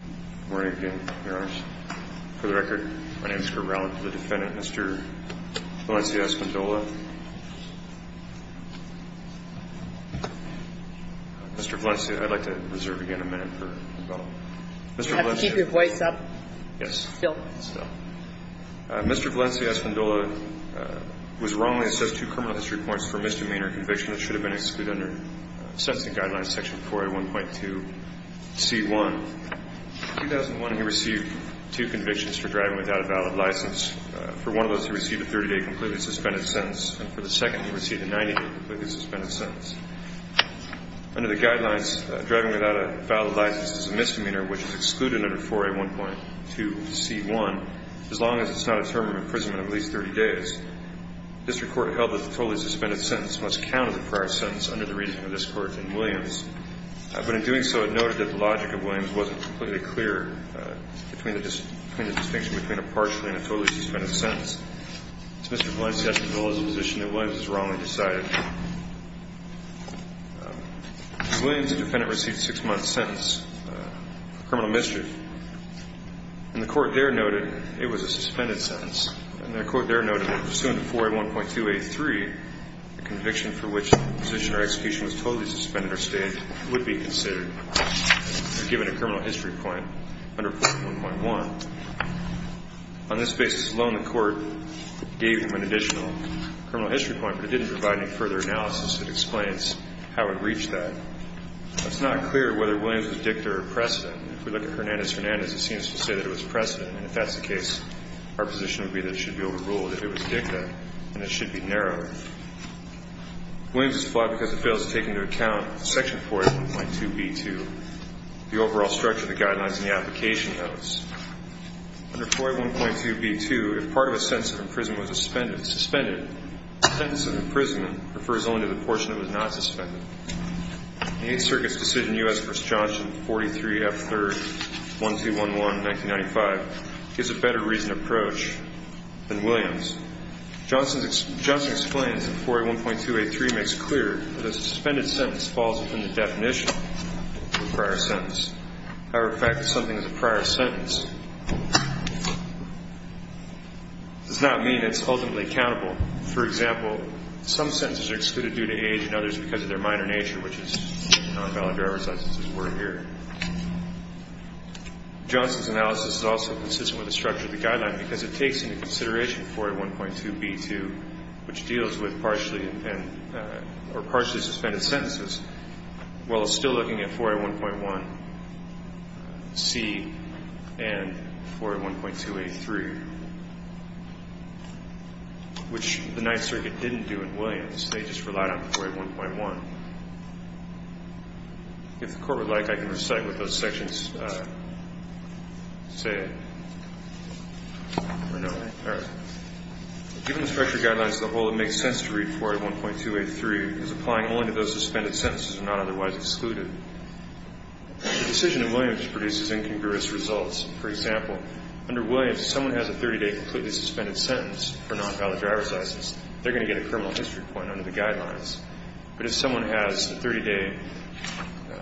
Good morning again, Your Honors. For the record, my name is Kurt Rowland, the defendant, Mr. Valencia-Espindola. Mr. Valencia-Espindola, I'd like to reserve again a minute for the bell. Mr. Valencia-Espindola, I'd like to reserve again a minute for the bell. You have to keep your voice up. Yes. Still. Still. Mr. Valencia-Espindola was wrongly assessed two criminal history points for misdemeanor conviction that should have been excluded under sentencing guidelines section 4A1.2c1. In 2001, he received two convictions for driving without a valid license. For one of those, he received a 30-day completely suspended sentence, and for the second, he received a 90-day completely suspended sentence. Under the guidelines, driving without a valid license is a misdemeanor which is excluded under 4A1.2c1 as long as it's not a term of imprisonment of at least 30 days. District Court held that the totally suspended sentence must count as a prior sentence under the reading of this Court in Williams. But in doing so, it noted that the logic of Williams wasn't completely clear between the distinction between a partially and a totally suspended sentence. Mr. Valencia-Espindola is in a position that Williams is wrongly decided. In Williams, the defendant received a six-month sentence for criminal mischief. And the Court there noted it was a suspended sentence. And the Court there noted that pursuant to 4A1.2a3, the conviction for which the position or execution was totally suspended or stayed would be considered, given a criminal history point under 4A1.1. On this basis alone, the Court gave him an additional criminal history point, but it didn't provide any further analysis that explains how it reached that. It's not clear whether Williams was dicta or precedent. If we look at Hernandez-Hernandez, it seems to say that it was precedent. And if that's the case, our position would be that it should be overruled if it was dicta, and it should be narrowed. Williams is flawed because it fails to take into account Section 4A1.2b2, the overall structure, the guidelines, and the application notes. Under 4A1.2b2, if part of a sentence of imprisonment was suspended, suspended, a sentence of imprisonment refers only to the portion that was not suspended. The Eighth Circuit's decision, U.S. v. Johnson, 43F3-1211, 1995, gives a better reasoned approach than Williams. Johnson explains that 4A1.2a3 makes clear that a suspended sentence falls within the definition of a prior sentence. However, the fact that something is a prior sentence does not mean it's ultimately accountable. For example, some sentences are excluded due to age and others because of their minor nature, which is not a valid driver's license's word here. Johnson's analysis is also consistent with the structure of the guideline because it takes into consideration 4A1.2b2, which deals with partially suspended sentences, while still looking at 4A1.1c and 4A1.2a3, which the Ninth Circuit didn't do in Williams. They just relied on 4A1.1. If the Court would like, I can recite what those sections say. Given the structure of guidelines as a whole, it makes sense to read 4A1.2a3 as applying only to those suspended sentences that are not otherwise excluded. The decision in Williams produces incongruous results. For example, under Williams, if someone has a 30-day completely suspended sentence for a non-valid driver's license, they're going to get a criminal history point under the guidelines. But if someone has a 30-day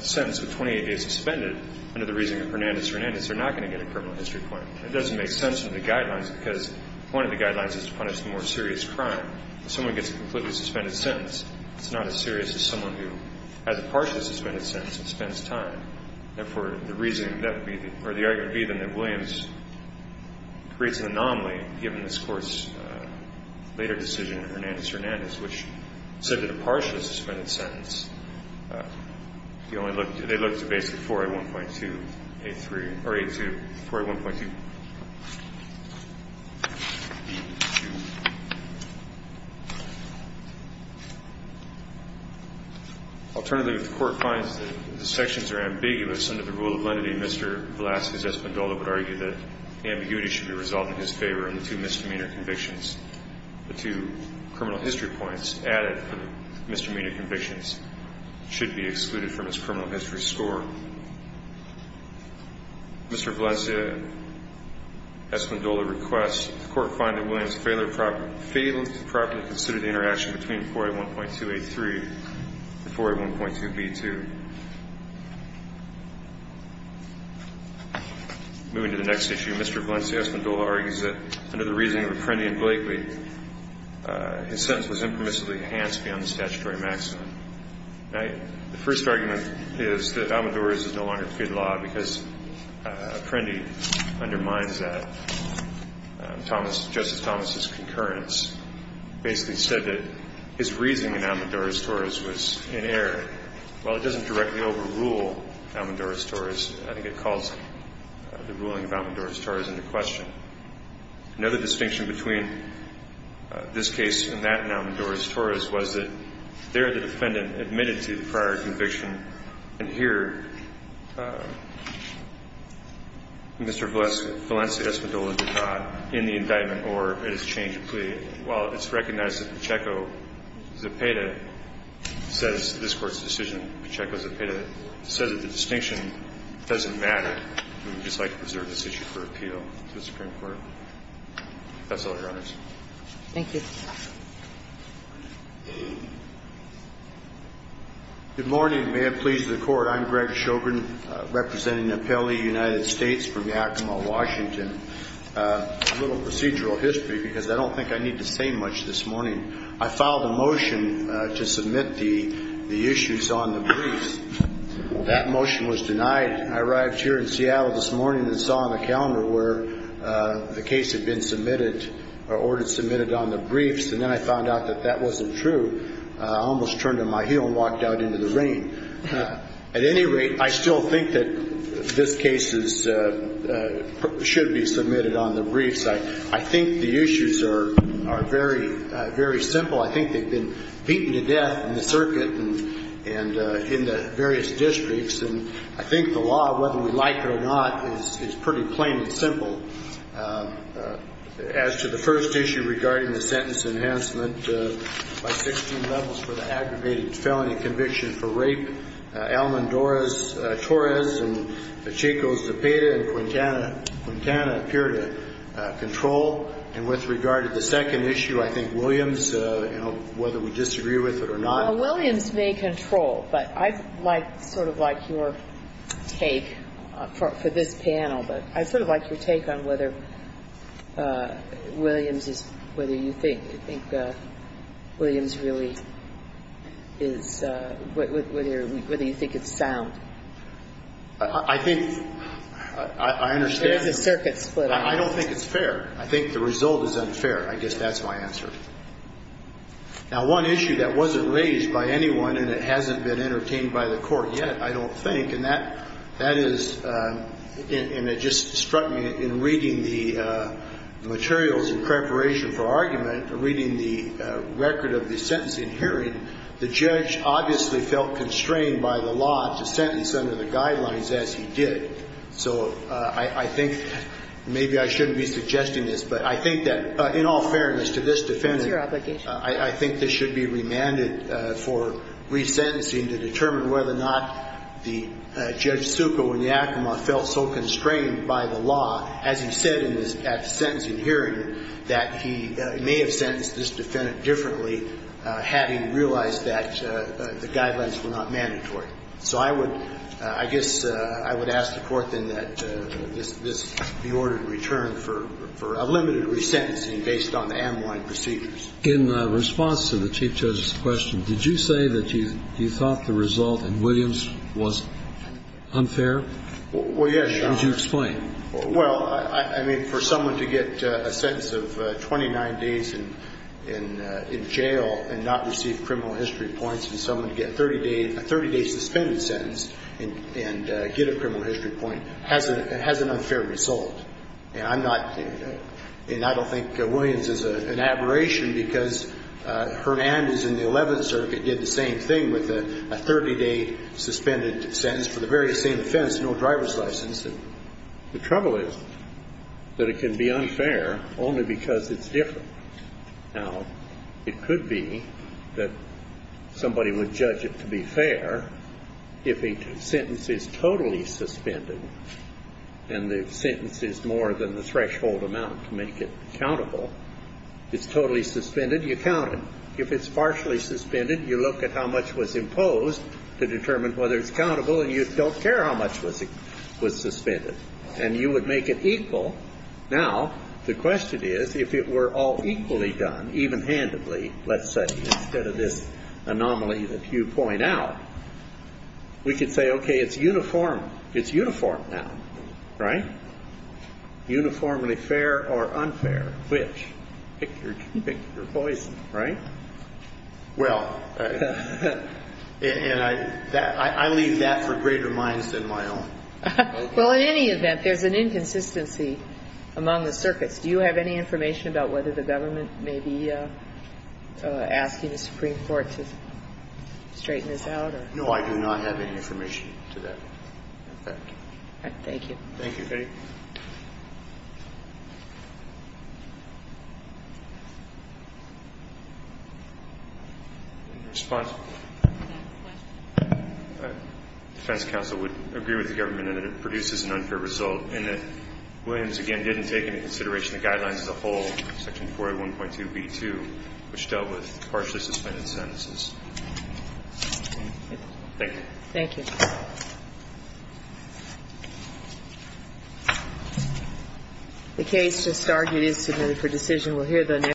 sentence with 28 days suspended under the reasoning of Hernandez-Hernandez, they're not going to get a criminal history point. It doesn't make sense under the guidelines because one of the guidelines is to punish the more serious crime. If someone gets a completely suspended sentence, it's not as serious as someone who has a partially suspended sentence and spends time. Therefore, the reasoning that would be the argument would be then that Williams creates an anomaly given this Court's later decision in Hernandez-Hernandez, which said that a partially suspended sentence, they only look to basically 4A1.2a3 or 4A1.2b2. Alternatively, if the Court finds that the sections are ambiguous under the rule of lenity, Mr. Velazquez-Espindola would argue that ambiguity should be resolved in his favor and the two misdemeanor convictions, the two criminal history points added from misdemeanor convictions should be excluded from his criminal history score. Mr. Valencia-Espindola requests that the Court find that Williams failed to properly consider the interaction between 4A1.2a3 and 4A1.2b2. Moving to the next issue, Mr. Valencia-Espindola argues that under the reasoning of Apprendi and Blakely, his sentence was impermissibly enhanced beyond the statutory maximum. Now, the first argument is that Almedores is no longer fit law because Apprendi undermines that. Thomas, Justice Thomas' concurrence basically said that his reasoning in Almedores-Torres was in error. While it doesn't directly overrule Almedores-Torres, I think it calls the ruling of Almedores-Torres into question. Another distinction between this case and that in Almedores-Torres was that there the defendant admitted to the prior conviction. And here Mr. Valencia-Espindola did not in the indictment or in his change of plea. While it's recognized that Pacheco-Zapata says this Court's decision, Pacheco-Zapata said that the distinction doesn't matter. We would just like to preserve this issue for appeal to the Supreme Court. That's all, Your Honors. Thank you. Good morning. May it please the Court. I'm Greg Shogren, representing the appellee, United States, from Yakima, Washington. A little procedural history because I don't think I need to say much this morning. I filed a motion to submit the issues on the briefs. That motion was denied. I arrived here in Seattle this morning and saw on the calendar where the case had been submitted or ordered submitted on the briefs, and then I found out that that wasn't true. I almost turned on my heel and walked out into the rain. At any rate, I still think that this case should be submitted on the briefs. I think the issues are very, very simple. I think they've been beaten to death in the circuit and in the various districts, and I think the law, whether we like it or not, is pretty plain and simple. As to the first issue regarding the sentence enhancement by 16 levels for the aggravated felony conviction for rape, Almond Torres and Chico Zepeda and Quintana appeared to control. And with regard to the second issue, I think Williams, you know, whether we disagree with it or not. Well, Williams may control, but I sort of like your take for this panel, but I sort of like your take on whether Williams is, whether you think, I think Williams really is, whether you think it's sound. I think, I understand. It's a circuit split. I don't think it's fair. I think the result is unfair. I guess that's my answer. Now, one issue that wasn't raised by anyone and it hasn't been entertained by the Court yet, I don't think, and that is, and it just struck me in reading the materials in preparation for argument, reading the record of the sentencing hearing, the judge obviously felt constrained by the law to sentence under the guidelines as he did. So I think maybe I shouldn't be suggesting this, but I think that in all fairness to this defendant. It's your obligation. I think this should be remanded for resentencing to determine whether or not the judge Succo and Yakima felt so constrained by the law, as he said at the sentencing hearing, that he may have sentenced this defendant differently, having realized that the guidelines were not mandatory. So I would, I guess I would ask the Court then that this be ordered in return for a limited resentencing based on the amyloid procedures. In response to the Chief Judge's question, did you say that you thought the result in Williams was unfair? Well, yes. Would you explain? Well, I mean, for someone to get a sentence of 29 days in jail and not receive criminal history points and someone to get a 30-day suspended sentence and get a criminal history point has an unfair result. And I'm not, and I don't think Williams is an aberration because Hernandez in the 11th Circuit did the same thing with a 30-day suspended sentence for the very same offense, no driver's license. The trouble is that it can be unfair only because it's different. Now, it could be that somebody would judge it to be fair if a sentence is totally suspended and the sentence is more than the threshold amount to make it accountable. It's totally suspended, you count it. If it's partially suspended, you look at how much was imposed to determine whether it's countable and you don't care how much was suspended. And you would make it equal. Now, the question is, if it were all equally done, even handedly, let's say, instead of this anomaly that you point out, we could say, okay, it's uniform. It's uniform now, right? Uniformly fair or unfair. Which? Pick your poison, right? Well, and I leave that for greater minds than my own. Well, in any event, there's an inconsistency among the circuits. Do you have any information about whether the government may be asking the Supreme Court to straighten this out? No, I do not have any information to that. Thank you. Thank you. Thank you. Any response? Defense counsel would agree with the government that it produces an unfair result and that Williams, again, didn't take into consideration the guidelines as a whole, section 4A1.2b2, which dealt with partially suspended sentences. Thank you. Thank you. The case just argued is submitted for decision.